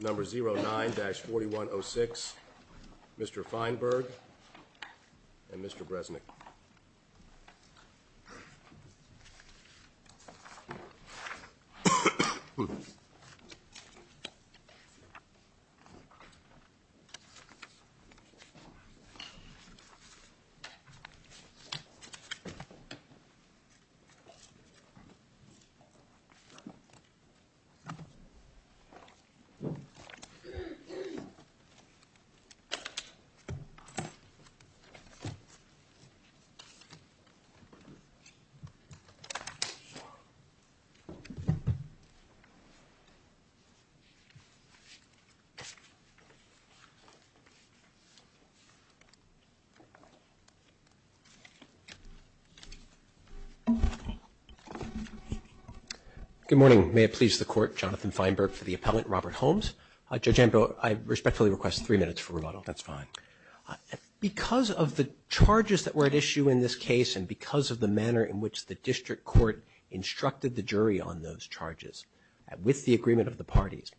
Number 09-4106, Mr. Feinberg and Mr. Bresnik. Good morning. May it please the Court, Jonathan Feinberg for the appellant, Robert Holmes. Judge Amko, I respectfully request three minutes for rebuttal. That's fine. Because of the charges that were at issue in this case and because of the manner in which the district court instructed the jury on those charges with the agreement of the parties,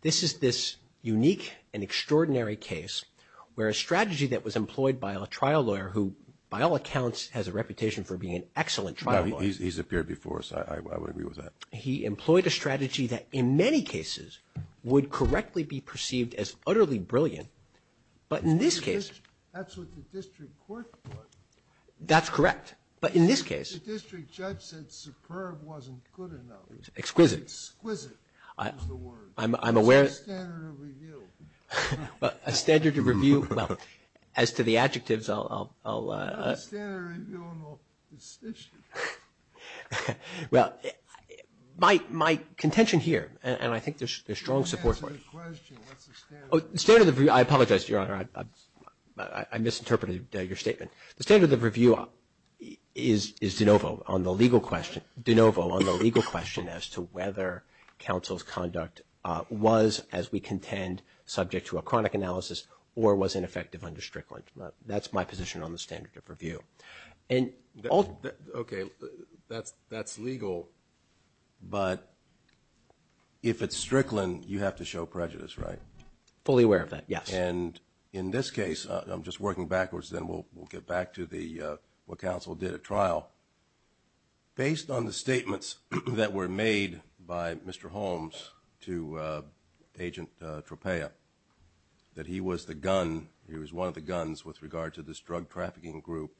this is this unique and extraordinary case where a strategy that was employed by a trial lawyer who, by all accounts, has a reputation for being an excellent trial lawyer. He's appeared before, so I would agree with that. He employed a strategy that in many cases would correctly be perceived as utterly brilliant, but in this case — That's what the district court thought. That's correct, but in this case — The district judge said superb wasn't good enough. Exquisite. Exquisite is the word. I'm aware — It's a standard of review. A standard of review. Well, as to the adjectives, I'll — A standard of review on the decision. Well, my contention here, and I think there's strong support for it — Answer the question. What's the standard of review? I apologize, Your Honor. I misinterpreted your statement. The standard of review is de novo on the legal question as to whether counsel's conduct was, as we contend, subject to a chronic analysis or was ineffective under Strickland. That's my position on the standard of review. Okay, that's legal, but if it's Strickland, you have to show prejudice, right? Fully aware of that, yes. And in this case, I'm just working backwards, then we'll get back to what counsel did at trial. Based on the statements that were made by Mr. Holmes to Agent Tropea, that he was the gun, he was one of the guns with regard to this drug trafficking group,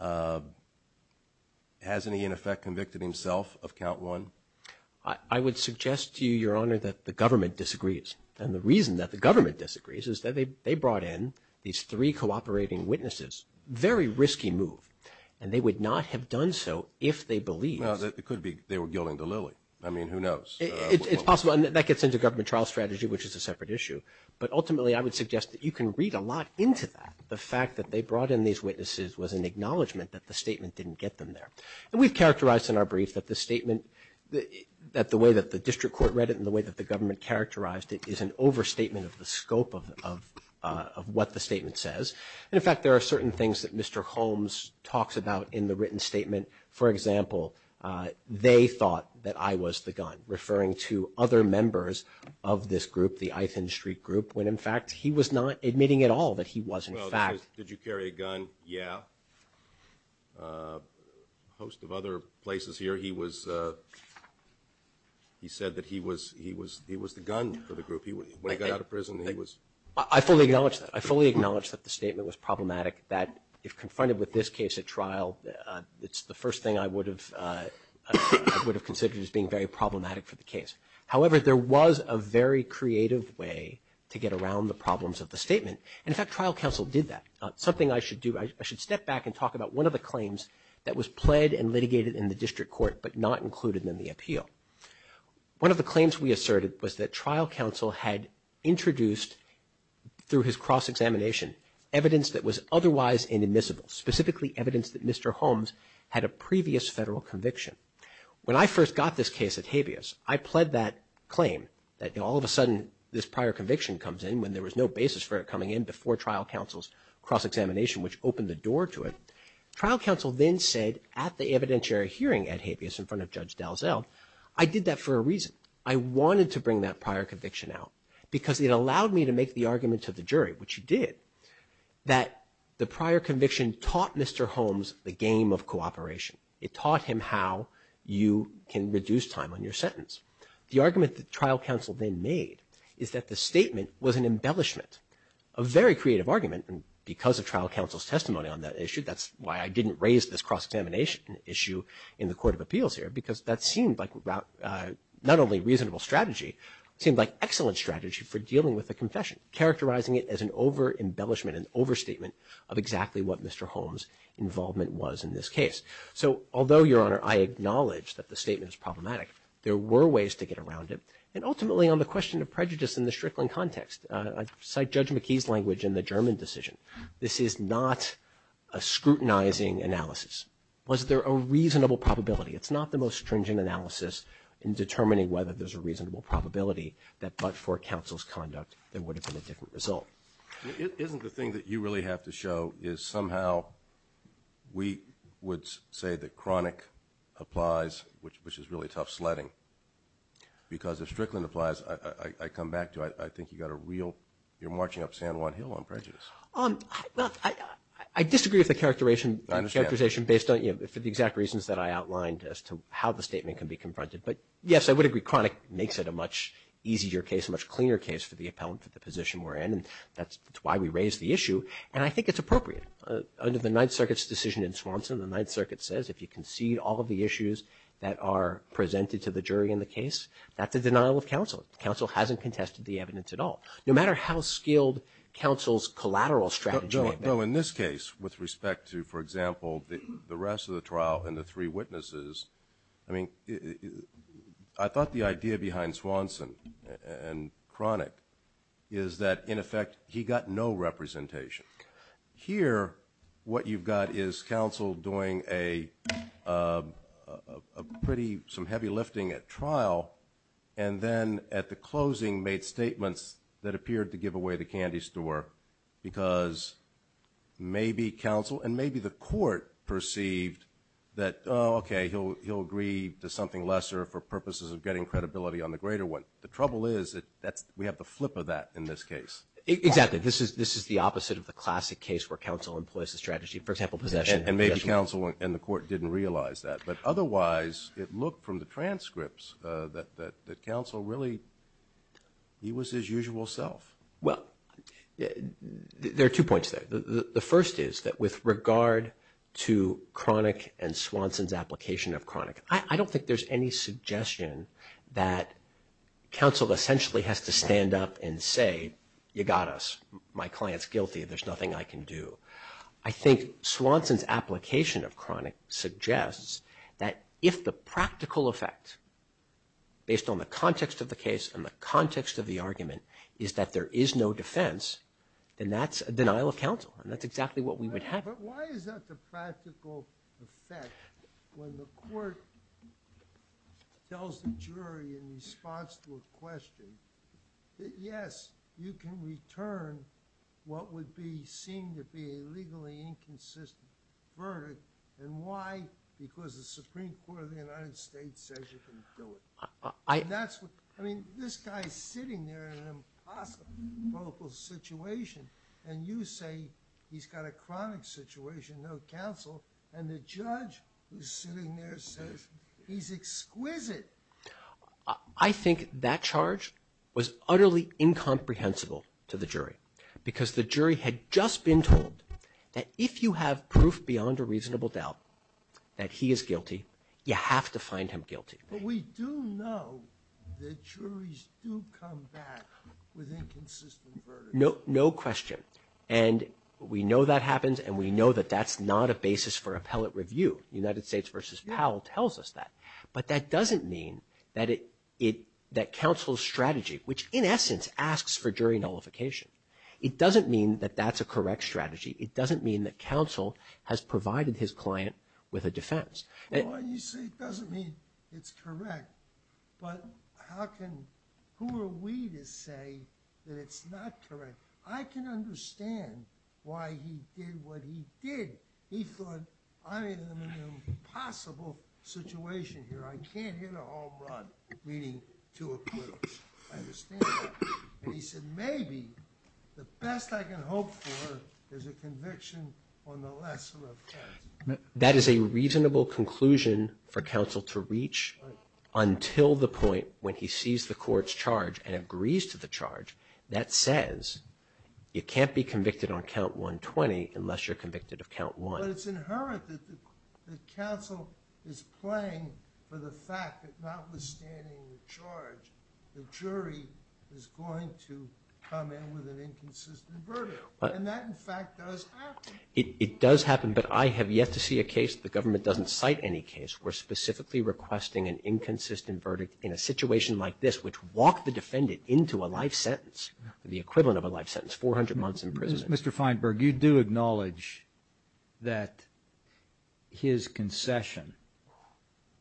hasn't he, in effect, convicted himself of count one? I would suggest to you, Your Honor, that the government disagrees. And the reason that the government disagrees is that they brought in these three cooperating witnesses. Very risky move. And they would not have done so if they believed. Well, it could be they were gilding the lily. I mean, who knows? It's possible. And that gets into government trial strategy, which is a separate issue. But ultimately, I would suggest that you can read a lot into that. The fact that they brought in these witnesses was an acknowledgement that the statement didn't get them there. And we've characterized in our brief that the statement, that the way that the district court read it and the way that the government characterized it is an overstatement of the scope of what the statement says. And, in fact, there are certain things that Mr. Holmes talks about in the written statement. For example, they thought that I was the gun, referring to other members of this group, the Eiffel Street group, when, in fact, he was not admitting at all that he was, in fact. Well, did you carry a gun? Yeah. A host of other places here, he was, he said that he was the gun for the group. When he got out of prison, he was. I fully acknowledge that. I fully acknowledge that the statement was problematic, that if confronted with this case at trial, it's the first thing I would have considered as being very problematic for the case. However, there was a very creative way to get around the problems of the statement. And, in fact, trial counsel did that. Something I should do, I should step back and talk about one of the claims that was pled and litigated in the district court but not included in the appeal. One of the claims we asserted was that trial counsel had introduced, through his cross-examination, evidence that was otherwise inadmissible, specifically evidence that Mr. Holmes had a previous federal conviction. When I first got this case at habeas, I pled that claim, that all of a sudden this prior conviction comes in when there was no basis for it coming in before trial counsel's cross-examination, which opened the door to it. Trial counsel then said at the evidentiary hearing at habeas in front of Judge Dalzell, I did that for a reason. I wanted to bring that prior conviction out because it allowed me to make the argument to the jury, which you did, that the prior conviction taught Mr. Holmes the game of cooperation. It taught him how you can reduce time on your sentence. The argument that trial counsel then made is that the statement was an embellishment, a very creative argument, and because of trial counsel's testimony on that issue, that's why I didn't raise this cross-examination issue in the court of appeals here, because that seemed like not only a reasonable strategy, it seemed like excellent strategy for dealing with a confession, characterizing it as an over-embellishment, an overstatement, of exactly what Mr. Holmes' involvement was in this case. So although, Your Honor, I acknowledge that the statement is problematic, there were ways to get around it, and ultimately on the question of prejudice in the Strickland context, I cite Judge McKee's language in the German decision. This is not a scrutinizing analysis. Was there a reasonable probability? It's not the most stringent analysis in determining whether there's a reasonable probability that but for counsel's conduct there would have been a different result. Isn't the thing that you really have to show is somehow we would say that chronic applies, which is really tough sledding, because if Strickland applies, I come back to, I think you've got a real, you're marching up San Juan Hill on prejudice. Well, I disagree with the characterization based on, you know, for the exact reasons that I outlined as to how the statement can be confronted. But, yes, I would agree chronic makes it a much easier case, a much cleaner case for the appellant for the position we're in, and that's why we raise the issue, and I think it's appropriate. Under the Ninth Circuit's decision in Swanson, the Ninth Circuit says if you concede all of the issues that are presented to the jury in the case, that's a denial of counsel. Counsel hasn't contested the evidence at all. No matter how skilled counsel's collateral strategy may be. No, in this case, with respect to, for example, the rest of the trial and the three witnesses, I mean, I thought the idea behind Swanson and chronic is that, in effect, he got no representation. Here what you've got is counsel doing a pretty, some heavy lifting at trial, and then at the closing made statements that appeared to give away the candy store, because maybe counsel and maybe the court perceived that, oh, okay, he'll agree to something lesser for purposes of getting credibility on the greater one. The trouble is that we have the flip of that in this case. Exactly. This is the opposite of the classic case where counsel employs the strategy. For example, possession. And maybe counsel and the court didn't realize that. But otherwise, it looked from the transcripts that counsel really, he was his usual self. Well, there are two points there. The first is that with regard to chronic and Swanson's application of chronic, I don't think there's any suggestion that counsel essentially has to stand up and say, you got us, my client's guilty, there's nothing I can do. I think Swanson's application of chronic suggests that if the practical effect, based on the context of the case and the context of the argument, is that there is no defense, then that's a denial of counsel. And that's exactly what we would have. But why is that the practical effect when the court tells the jury in response to a question, yes, you can return what would seem to be a legally inconsistent verdict. And why? Because the Supreme Court of the United States says you can do it. I mean, this guy's sitting there in an impossible political situation, and you say he's got a chronic situation, no counsel, and the judge who's sitting there says he's exquisite. I think that charge was utterly incomprehensible to the jury, because the jury had just been told that if you have proof beyond a reasonable doubt that he is guilty, you have to find him guilty. But we do know that juries do come back with inconsistent verdicts. No question. And we know that happens, and we know that that's not a basis for appellate review. United States v. Powell tells us that. But that doesn't mean that counsel's strategy, which in essence asks for jury nullification, it doesn't mean that that's a correct strategy. It doesn't mean that counsel has provided his client with a defense. It doesn't mean it's correct, but who are we to say that it's not correct? I can understand why he did what he did. He thought, I'm in an impossible situation here. I can't hit a home run leading to acquittal. I understand that. And he said maybe the best I can hope for is a conviction on the lesser of two. That is a reasonable conclusion for counsel to reach until the point when he sees the court's charge and agrees to the charge that says you can't be convicted on count 120 unless you're convicted of count one. But it's inherent that counsel is playing for the fact that notwithstanding the charge, the jury is going to come in with an inconsistent verdict. And that, in fact, does happen. It does happen, but I have yet to see a case the government doesn't cite any case where specifically requesting an inconsistent verdict in a situation like this, which walked the defendant into a life sentence, the equivalent of a life sentence, 400 months in prison. Mr. Feinberg, you do acknowledge that his concession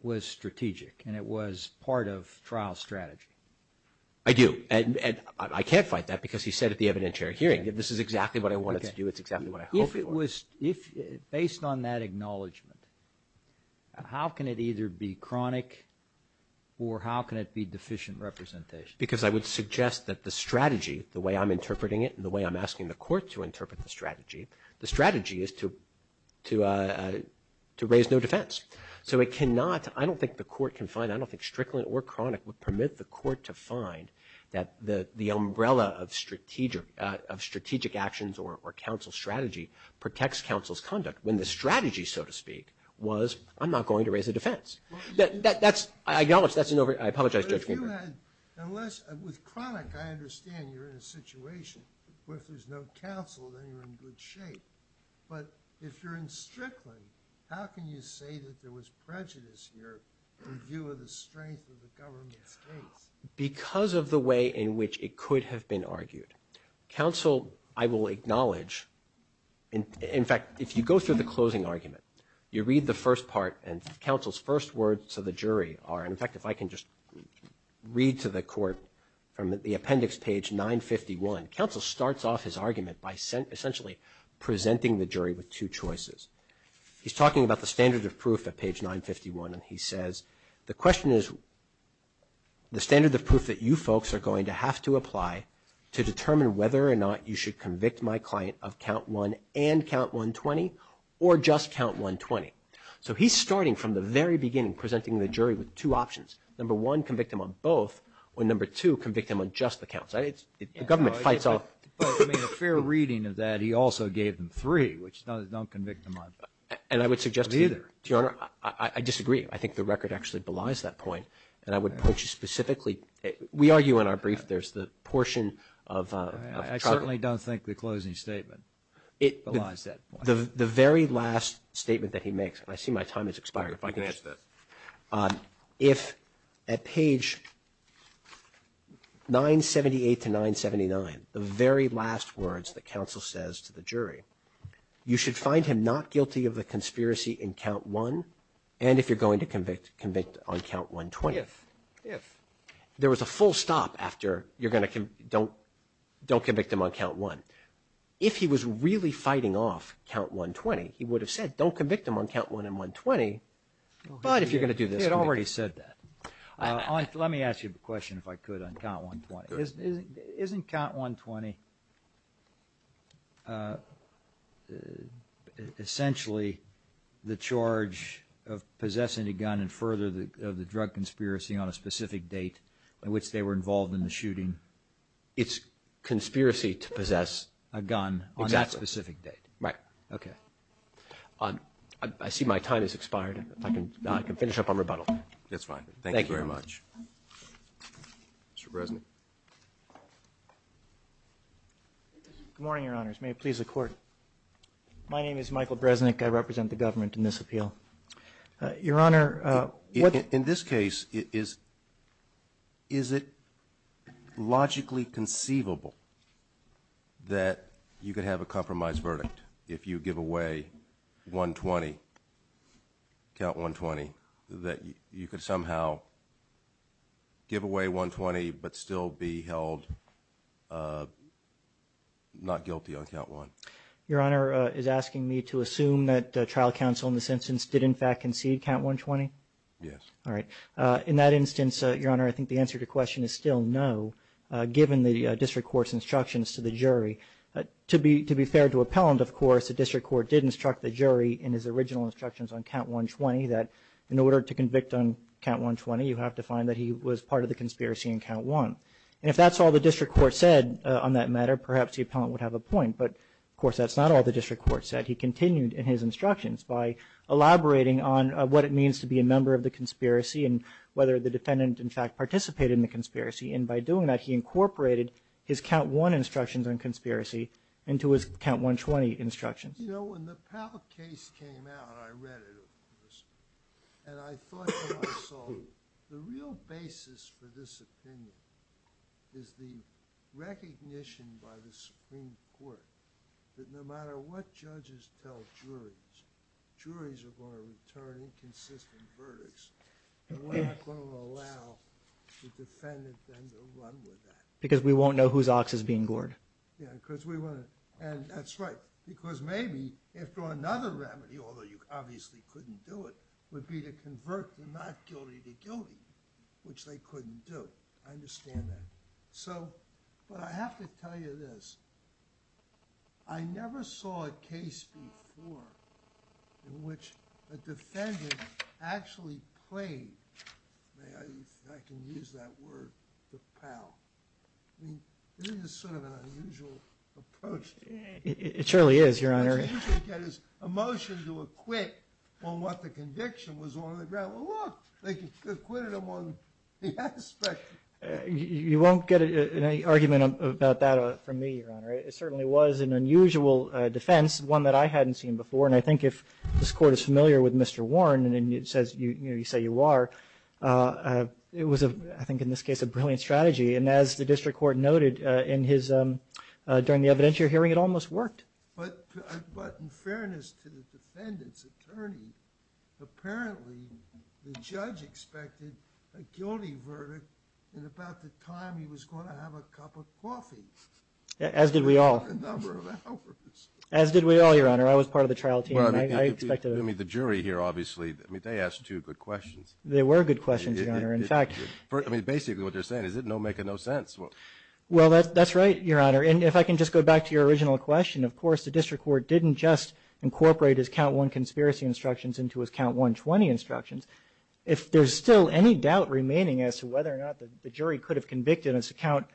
was strategic and it was part of trial strategy. I do. And I can't fight that because he said at the evidentiary hearing, this is exactly what I wanted to do, it's exactly what I hope it was. Based on that acknowledgment, how can it either be chronic or how can it be deficient representation? Because I would suggest that the strategy, the way I'm interpreting it and the way I'm asking the court to interpret the strategy, the strategy is to raise no defense. So it cannot, I don't think the court can find, I don't think strickling or chronic would permit the court to find that the umbrella of strategic actions or counsel's strategy protects counsel's conduct when the strategy, so to speak, was I'm not going to raise a defense. I apologize, Judge Feinberg. With chronic, I understand you're in a situation where if there's no counsel, then you're in good shape. But if you're in strickling, how can you say that there was prejudice here in view of the strength of the government's case? Because of the way in which it could have been argued. Counsel, I will acknowledge, in fact, if you go through the closing argument, you read the first part and counsel's first words to the jury are, in fact, if I can just read to the court from the appendix page 951, counsel starts off his argument by essentially presenting the jury with two choices. He's talking about the standard of proof at page 951 and he says, the question is the standard of proof that you folks are going to have to apply to determine whether or not you should convict my client of count one and count 120 or just count 120. So he's starting from the very beginning, presenting the jury with two options. Number one, convict him on both, or number two, convict him on just the counts. The government fights all of them. But, I mean, a fair reading of that, he also gave them three, which doesn't convict him on either. And I would suggest to you, Your Honor, I disagree. I think the record actually belies that point. And I would point you specifically, we argue in our brief, there's the portion of trouble. I certainly don't think the closing statement belies that point. The very last statement that he makes, and I see my time has expired. You can answer that. If at page 978 to 979, the very last words that counsel says to the jury, you should find him not guilty of the conspiracy in count one and if you're going to convict, convict on count 120. If. If. There was a full stop after you're going to, don't convict him on count one. If he was really fighting off count 120, he would have said, don't convict him on count one and 120, but if you're going to do this. He had already said that. Let me ask you a question, if I could, on count 120. Isn't count 120 essentially the charge of possessing a gun and further of the drug conspiracy on a specific date on which they were involved in the shooting? It's conspiracy to possess a gun on that specific date. Right. Okay. I see my time has expired. I can finish up on rebuttal. That's fine. Thank you very much. Mr. Bresnik. Good morning, Your Honors. May it please the Court. My name is Michael Bresnik. I represent the government in this appeal. Your Honor. In this case, is it logically conceivable that you could have a compromise verdict if you give away 120, count 120, that you could somehow give away 120 but still be held not guilty on count one? Your Honor is asking me to assume that trial counsel in this instance did in fact concede count 120? Yes. All right. In that instance, Your Honor, I think the answer to your question is still no, given the district court's instructions to the jury. To be fair to appellant, of course, the district court did instruct the jury in his original instructions on count 120 that in order to convict on count 120, you have to find that he was part of the conspiracy on count one. And if that's all the district court said on that matter, perhaps the appellant would have a point. But, of course, that's not all the district court said. He continued in his instructions by elaborating on what it means to be a member of the conspiracy and whether the defendant in fact participated in the conspiracy. And by doing that, he incorporated his count one instructions on conspiracy into his count 120 instructions. You know, when the Powell case came out, I read it, and I thought to myself the real basis for this opinion is the recognition by the Supreme Court that no matter what judges tell juries, juries are going to return inconsistent verdicts. And we're not going to allow the defendant then to run with that. Because we won't know whose ox is being gored. Yeah, because we want to, and that's right, because maybe if there were another remedy, although you obviously couldn't do it, would be to convert the not guilty to guilty, which they couldn't do. I understand that. But I have to tell you this. I never saw a case before in which a defendant actually played, if I can use that word, the Powell. I mean, this is sort of an unusual approach. It surely is, Your Honor. A motion to acquit on what the conviction was on the ground. Well, look, they acquitted him on the aspect. You won't get any argument about that from me, Your Honor. It certainly was an unusual defense, one that I hadn't seen before. And I think if this Court is familiar with Mr. Warren, and you say you are, it was, I think in this case, a brilliant strategy. And as the District Court noted during the evidence you're hearing, But in fairness to the defendant's attorney, apparently the judge expected a guilty verdict in about the time he was going to have a cup of coffee. As did we all. In a number of hours. As did we all, Your Honor. I was part of the trial team. I expected it. I mean, the jury here, obviously, I mean, they asked two good questions. They were good questions, Your Honor. In fact, I mean, basically what they're saying is it's making no sense. Well, that's right, Your Honor. And if I can just go back to your original question, of course the District Court didn't just incorporate his count one conspiracy instructions into his count 120 instructions. If there's still any doubt remaining as to whether or not the jury could have convicted as to count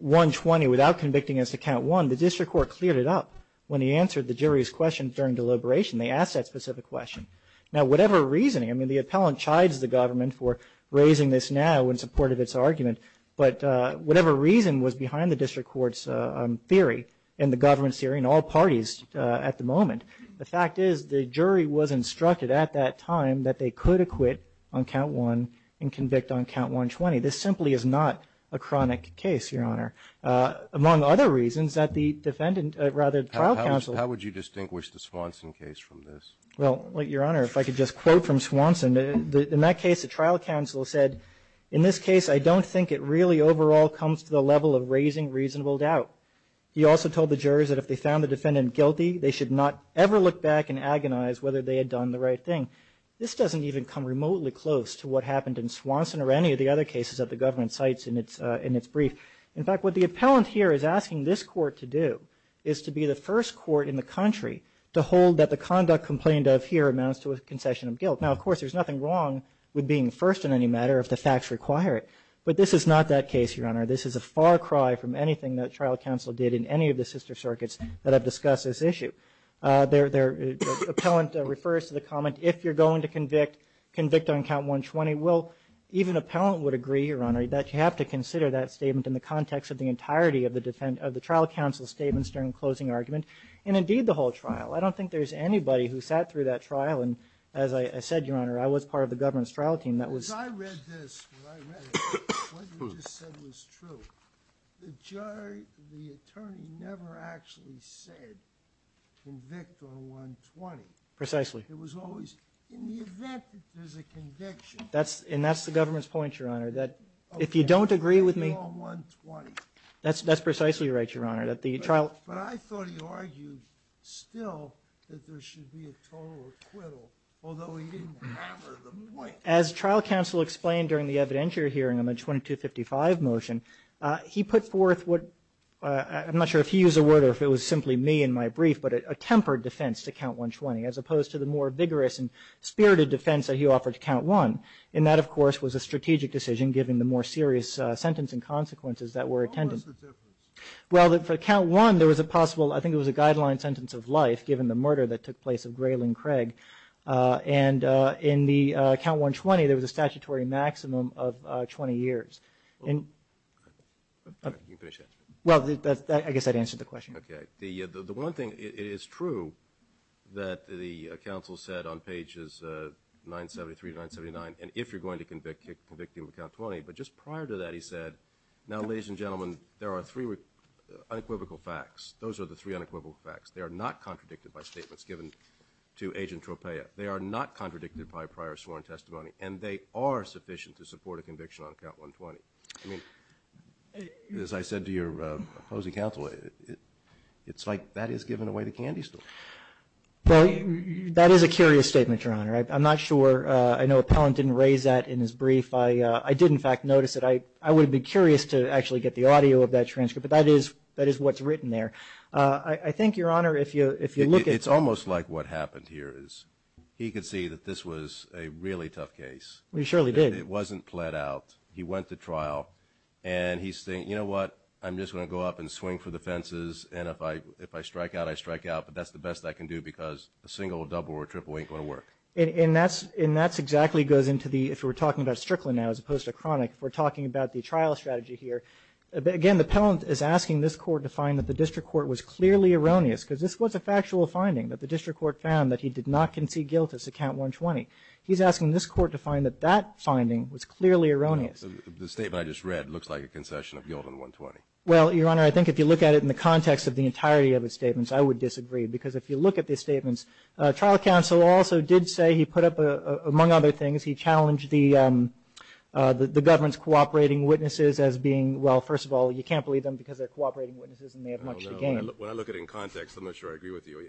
120 without convicting as to count one, the District Court cleared it up. When he answered the jury's question during deliberation, they asked that specific question. Now, whatever reasoning, I mean, the appellant chides the government for raising this now in support of its argument, but whatever reason was behind the District Court's theory and the government's theory and all parties at the moment, the fact is the jury was instructed at that time that they could acquit on count one and convict on count 120. This simply is not a chronic case, Your Honor, among other reasons that the defendant, rather the trial counsel. How would you distinguish the Swanson case from this? Well, Your Honor, if I could just quote from Swanson, in that case the trial counsel said, in this case I don't think it really overall comes to the level of raising reasonable He also told the jurors that if they found the defendant guilty, they should not ever look back and agonize whether they had done the right thing. This doesn't even come remotely close to what happened in Swanson or any of the other cases that the government cites in its brief. In fact, what the appellant here is asking this court to do is to be the first court in the country to hold that the conduct complained of here amounts to a concession of guilt. Now, of course, there's nothing wrong with being first in any matter if the facts require it, but this is not that case, Your Honor. This is a far cry from anything that trial counsel did in any of the sister circuits that have discussed this issue. The appellant refers to the comment, if you're going to convict, convict on count 120. Well, even appellant would agree, Your Honor, that you have to consider that statement in the context of the entirety of the trial counsel's statements during the closing argument and indeed the whole trial. I don't think there's anybody who sat through that trial, and as I said, Your Honor, I was part of the government's trial team. As I read this, what you just said was true. The attorney never actually said convict on 120. Precisely. It was always in the event that there's a conviction. And that's the government's point, Your Honor, that if you don't agree with me. Okay, convict on 120. That's precisely right, Your Honor. But I thought he argued still that there should be a total acquittal, although he didn't hammer the point. As trial counsel explained during the evidentiary hearing on the 2255 motion, he put forth what, I'm not sure if he used the word or if it was simply me in my brief, but a tempered defense to count 120, as opposed to the more vigorous and spirited defense that he offered to count 1. And that, of course, was a strategic decision, given the more serious sentencing consequences that were attended. What was the difference? Well, for count 1, there was a possible, I think it was a guideline sentence of life, given the murder that took place of Gray Lynn Craig. And in the count 120, there was a statutory maximum of 20 years. You can finish that. Well, I guess that answers the question. Okay. The one thing, it is true that the counsel said on pages 973 to 979, and if you're going to convict him of count 20, but just prior to that he said, now, ladies and gentlemen, there are three unequivocal facts. Those are the three unequivocal facts. They are not contradicted by statements given to Agent Tropea. They are not contradicted by prior sworn testimony, and they are sufficient to support a conviction on count 120. I mean, as I said to your opposing counsel, it's like that is giving away the candy store. Well, that is a curious statement, Your Honor. I'm not sure. I know Appellant didn't raise that in his brief. I did, in fact, notice it. I would have been curious to actually get the audio of that transcript, but that is what's written there. I think, Your Honor, if you look at it. It's almost like what happened here is he could see that this was a really tough case. He surely did. It wasn't plead out. He went to trial, and he's saying, you know what? I'm just going to go up and swing for the fences, and if I strike out, I strike out, but that's the best I can do because a single, a double, or a triple ain't going to work. And that exactly goes into the, if we're talking about Strickland now as opposed to Cronic, if we're talking about the trial strategy here, again, the Appellant is asking this Court to find that the district court was clearly erroneous because this was a factual finding that the district court found that he did not concede guilt as to Count 120. He's asking this Court to find that that finding was clearly erroneous. The statement I just read looks like a concession of guilt on 120. Well, Your Honor, I think if you look at it in the context of the entirety of his statements, I would disagree because if you look at the statements, trial counsel also did say he put up, among other things, he challenged the government's cooperating witnesses as being, well, first of all, you can't believe them because they're cooperating witnesses and they have much to gain. When I look at it in context, I'm not sure I agree with you.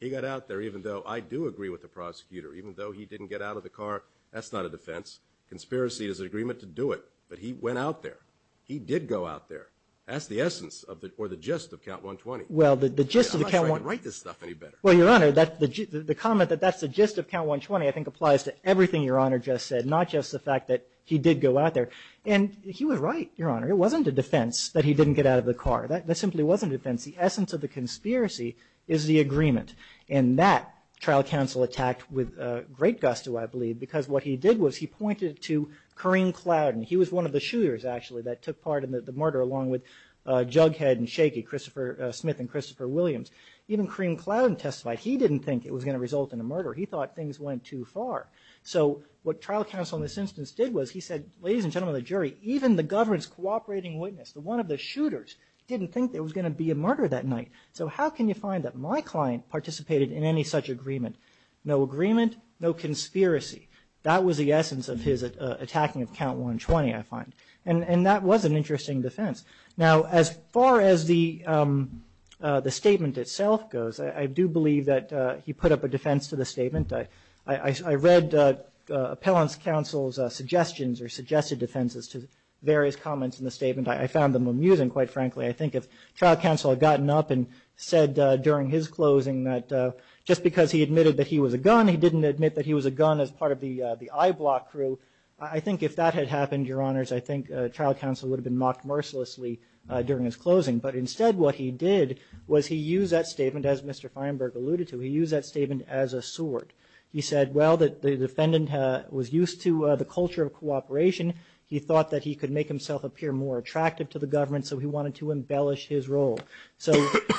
He got out there even though I do agree with the prosecutor. Even though he didn't get out of the car, that's not a defense. Conspiracy is an agreement to do it, but he went out there. He did go out there. That's the essence or the gist of Count 120. Well, the gist of the Count 120. I'm not sure I can write this stuff any better. Well, Your Honor, the comment that that's the gist of Count 120 I think applies to everything Your Honor just said, not just the fact that he did go out there. And he was right, Your Honor. It wasn't a defense that he didn't get out of the car. That simply wasn't a defense. The essence of the conspiracy is the agreement. And that trial counsel attacked with great gusto, I believe, because what he did was he pointed to Kareem Clouden. He was one of the shooters, actually, that took part in the murder along with Jughead and Shakey, Christopher Smith and Christopher Williams. Even Kareem Clouden testified he didn't think it was going to result in a murder. He thought things went too far. So what trial counsel in this instance did was he said, ladies and gentlemen of the jury, even the government's cooperating witness, the one of the shooters, didn't think there was going to be a murder that night. So how can you find that my client participated in any such agreement? No agreement, no conspiracy. That was the essence of his attacking of Count 120, I find. And that was an interesting defense. Now, as far as the statement itself goes, I do believe that he put up a defense to the statement. I read appellant's counsel's suggestions or suggested defenses to various comments in the statement. I found them amusing, quite frankly. I think if trial counsel had gotten up and said during his closing that just because he admitted that he was a gun, he didn't admit that he was a gun as part of the I-block crew, I think if that had happened, Your Honors, I think trial counsel would have been mocked mercilessly during his closing. But instead what he did was he used that statement, as Mr. Feinberg alluded to, he used that statement as a sword. He said, well, the defendant was used to the culture of cooperation. He thought that he could make himself appear more attractive to the government, so he wanted to embellish his role. So,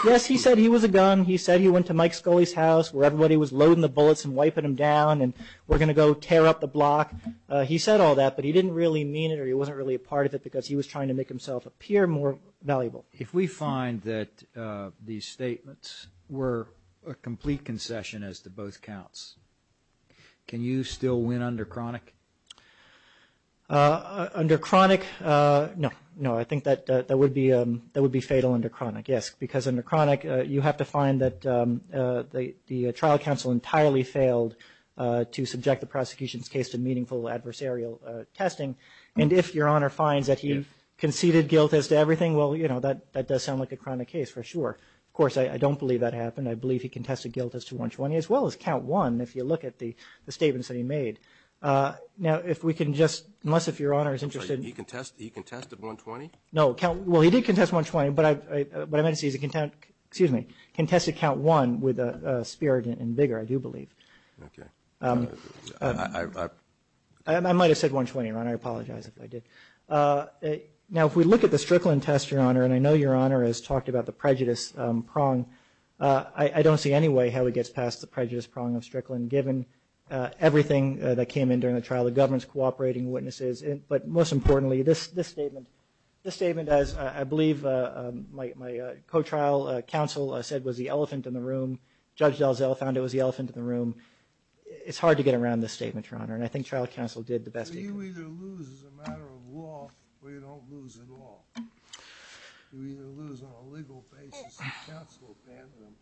yes, he said he was a gun. He said he went to Mike Scully's house where everybody was loading the bullets and wiping them down and we're going to go tear up the block. He said all that, but he didn't really mean it or he wasn't really a part of it because he was trying to make himself appear more valuable. If we find that these statements were a complete concession as to both counts, can you still win under chronic? Under chronic, no. No, I think that would be fatal under chronic, yes, because under chronic you have to find that the trial counsel entirely failed to subject the prosecution's case to meaningful adversarial testing and if Your Honor finds that he conceded guilt as to everything, well, you know, that does sound like a chronic case for sure. Of course, I don't believe that happened. I believe he contested guilt as to 120 as well as count one if you look at the statements that he made. Now, if we can just, unless if Your Honor is interested. I'm sorry, he contested 120? No, well, he did contest 120, but I meant to say he contested count one with a spirit and vigor, I do believe. Okay. I might have said 120, Your Honor. I apologize if I did. Now, if we look at the Strickland test, Your Honor, and I know Your Honor has talked about the prejudice prong, I don't see any way how he gets past the prejudice prong of Strickland given everything that came in during the trial, the government's cooperating witnesses, but most importantly this statement, this statement as I believe my co-trial counsel said was the elephant in the room. Judge Dalziel found it was the elephant in the room. It's hard to get around this statement, Your Honor, and I think trial counsel did the best he could. Well, you either lose as a matter of law or you don't lose at all. You either lose on a legal basis or counsel abandons them.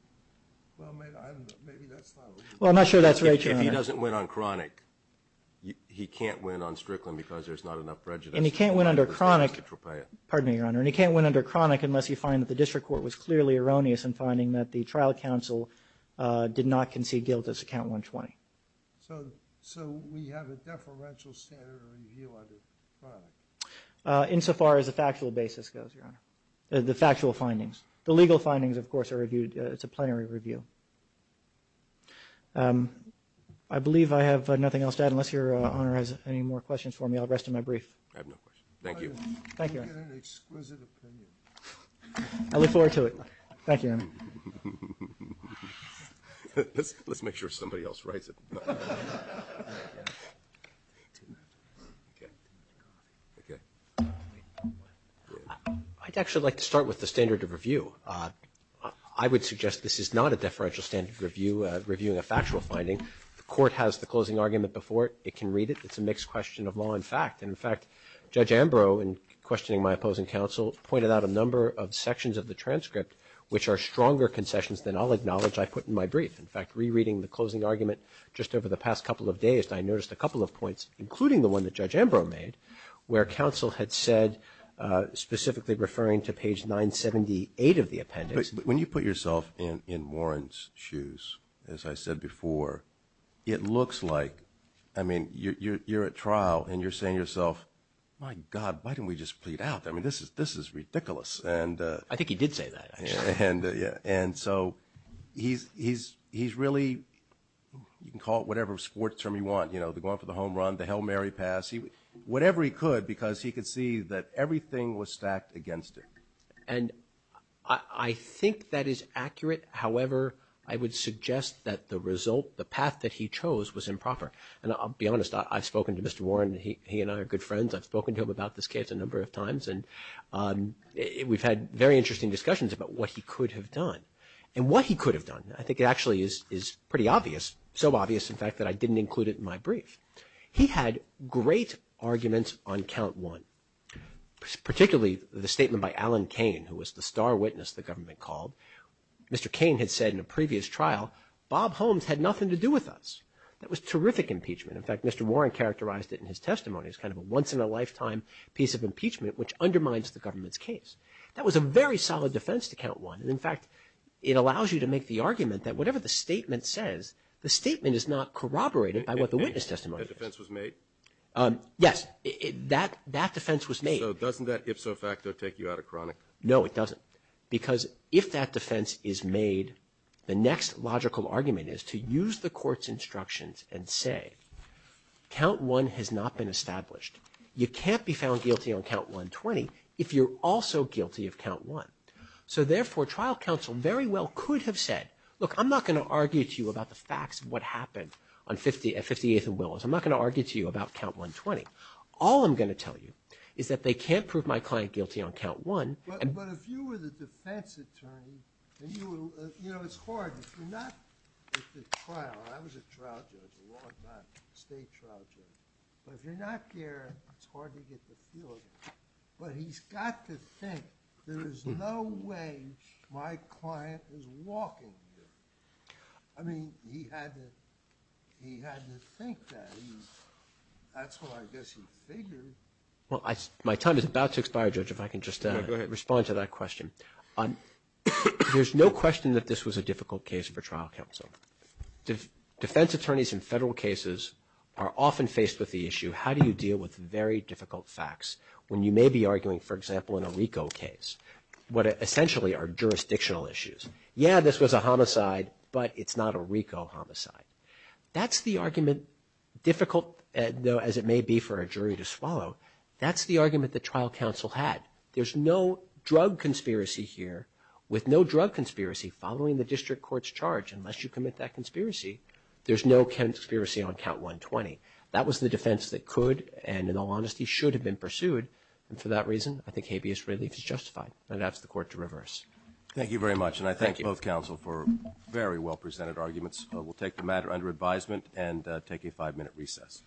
Well, maybe that's not what you're talking about. Well, I'm not sure that's right, Your Honor. If he doesn't win on chronic, he can't win on Strickland because there's not enough prejudice. And he can't win under chronic, pardon me, Your Honor, and he can't win under chronic unless you find that the district court was clearly erroneous in finding that the trial counsel did not concede guilt as to count 120. So we have a deferential standard of review under chronic? Insofar as the factual basis goes, Your Honor, the factual findings. The legal findings, of course, are reviewed. It's a plenary review. I believe I have nothing else to add unless Your Honor has any more questions for me. I'll rest in my brief. I have no questions. Thank you. Thank you, Your Honor. You get an exquisite opinion. I look forward to it. Thank you, Your Honor. Let's make sure somebody else writes it. I'd actually like to start with the standard of review. I would suggest this is not a deferential standard of review, reviewing a factual finding. The court has the closing argument before it. It can read it. It's a mixed question of law and fact. And, in fact, Judge Ambrose, in questioning my opposing counsel, pointed out a number of sections of the transcript which are stronger concessions than I'll acknowledge I put in my brief. In fact, rereading the closing argument just over the past couple of days, I noticed a couple of points, including the one that Judge Ambrose made, where counsel had said, specifically referring to page 978 of the appendix. When you put yourself in Warren's shoes, as I said before, it looks like, I mean, you're at trial and you're saying to yourself, my God, why didn't we just plead out? I mean, this is ridiculous. I think he did say that, actually. And so he's really, you can call it whatever sport term you want, you know, the going for the home run, the Hail Mary pass, whatever he could, because he could see that everything was stacked against him. And I think that is accurate. However, I would suggest that the result, the path that he chose was improper. And I'll be honest, I've spoken to Mr. Warren. He and I are good friends. I've spoken to him about this case a number of times, and we've had very interesting discussions about what he could have done. And what he could have done, I think actually is pretty obvious, so obvious, in fact, that I didn't include it in my brief. He had great arguments on count one, particularly the statement by Alan Kane, who was the star witness the government called. Mr. Kane had said in a previous trial, Bob Holmes had nothing to do with us. That was terrific impeachment. In fact, Mr. Warren characterized it in his testimony as kind of a once-in-a-lifetime piece of impeachment, which undermines the government's case. That was a very solid defense to count one. And, in fact, it allows you to make the argument that whatever the statement says, the statement is not corroborated by what the witness testimony says. That defense was made? Yes. That defense was made. So doesn't that ipso facto take you out of chronic? No, it doesn't. Because if that defense is made, the next logical argument is to use the court's instructions and say, count one has not been established. You can't be found guilty on count 120 if you're also guilty of count one. So, therefore, trial counsel very well could have said, look, I'm not going to argue to you about the facts of what happened on 58th and Willis. I'm not going to argue to you about count 120. All I'm going to tell you is that they can't prove my client guilty on count one. But if you were the defense attorney, you know, it's hard. If you're not at the trial, I was a trial judge a long time, state trial judge. But if you're not there, it's hard to get the feel of it. But he's got to think there is no way my client is walking here. I mean, he had to think that. That's what I guess he figured. Well, my time is about to expire, Judge, if I can just add. Go ahead. Respond to that question. There's no question that this was a difficult case for trial counsel. Defense attorneys in federal cases are often faced with the issue, how do you deal with very difficult facts when you may be arguing, for example, in a RICO case, what essentially are jurisdictional issues. Yeah, this was a homicide, but it's not a RICO homicide. That's the argument, difficult as it may be for a jury to swallow, that's the argument that trial counsel had. There's no drug conspiracy here. With no drug conspiracy following the district court's charge, unless you commit that conspiracy, there's no conspiracy on count 120. That was the defense that could and, in all honesty, should have been pursued. And for that reason, I think habeas relief is justified. And I'd ask the court to reverse. Thank you very much. And I thank both counsel for very well-presented arguments. We'll take the matter under advisement and take a five-minute recess.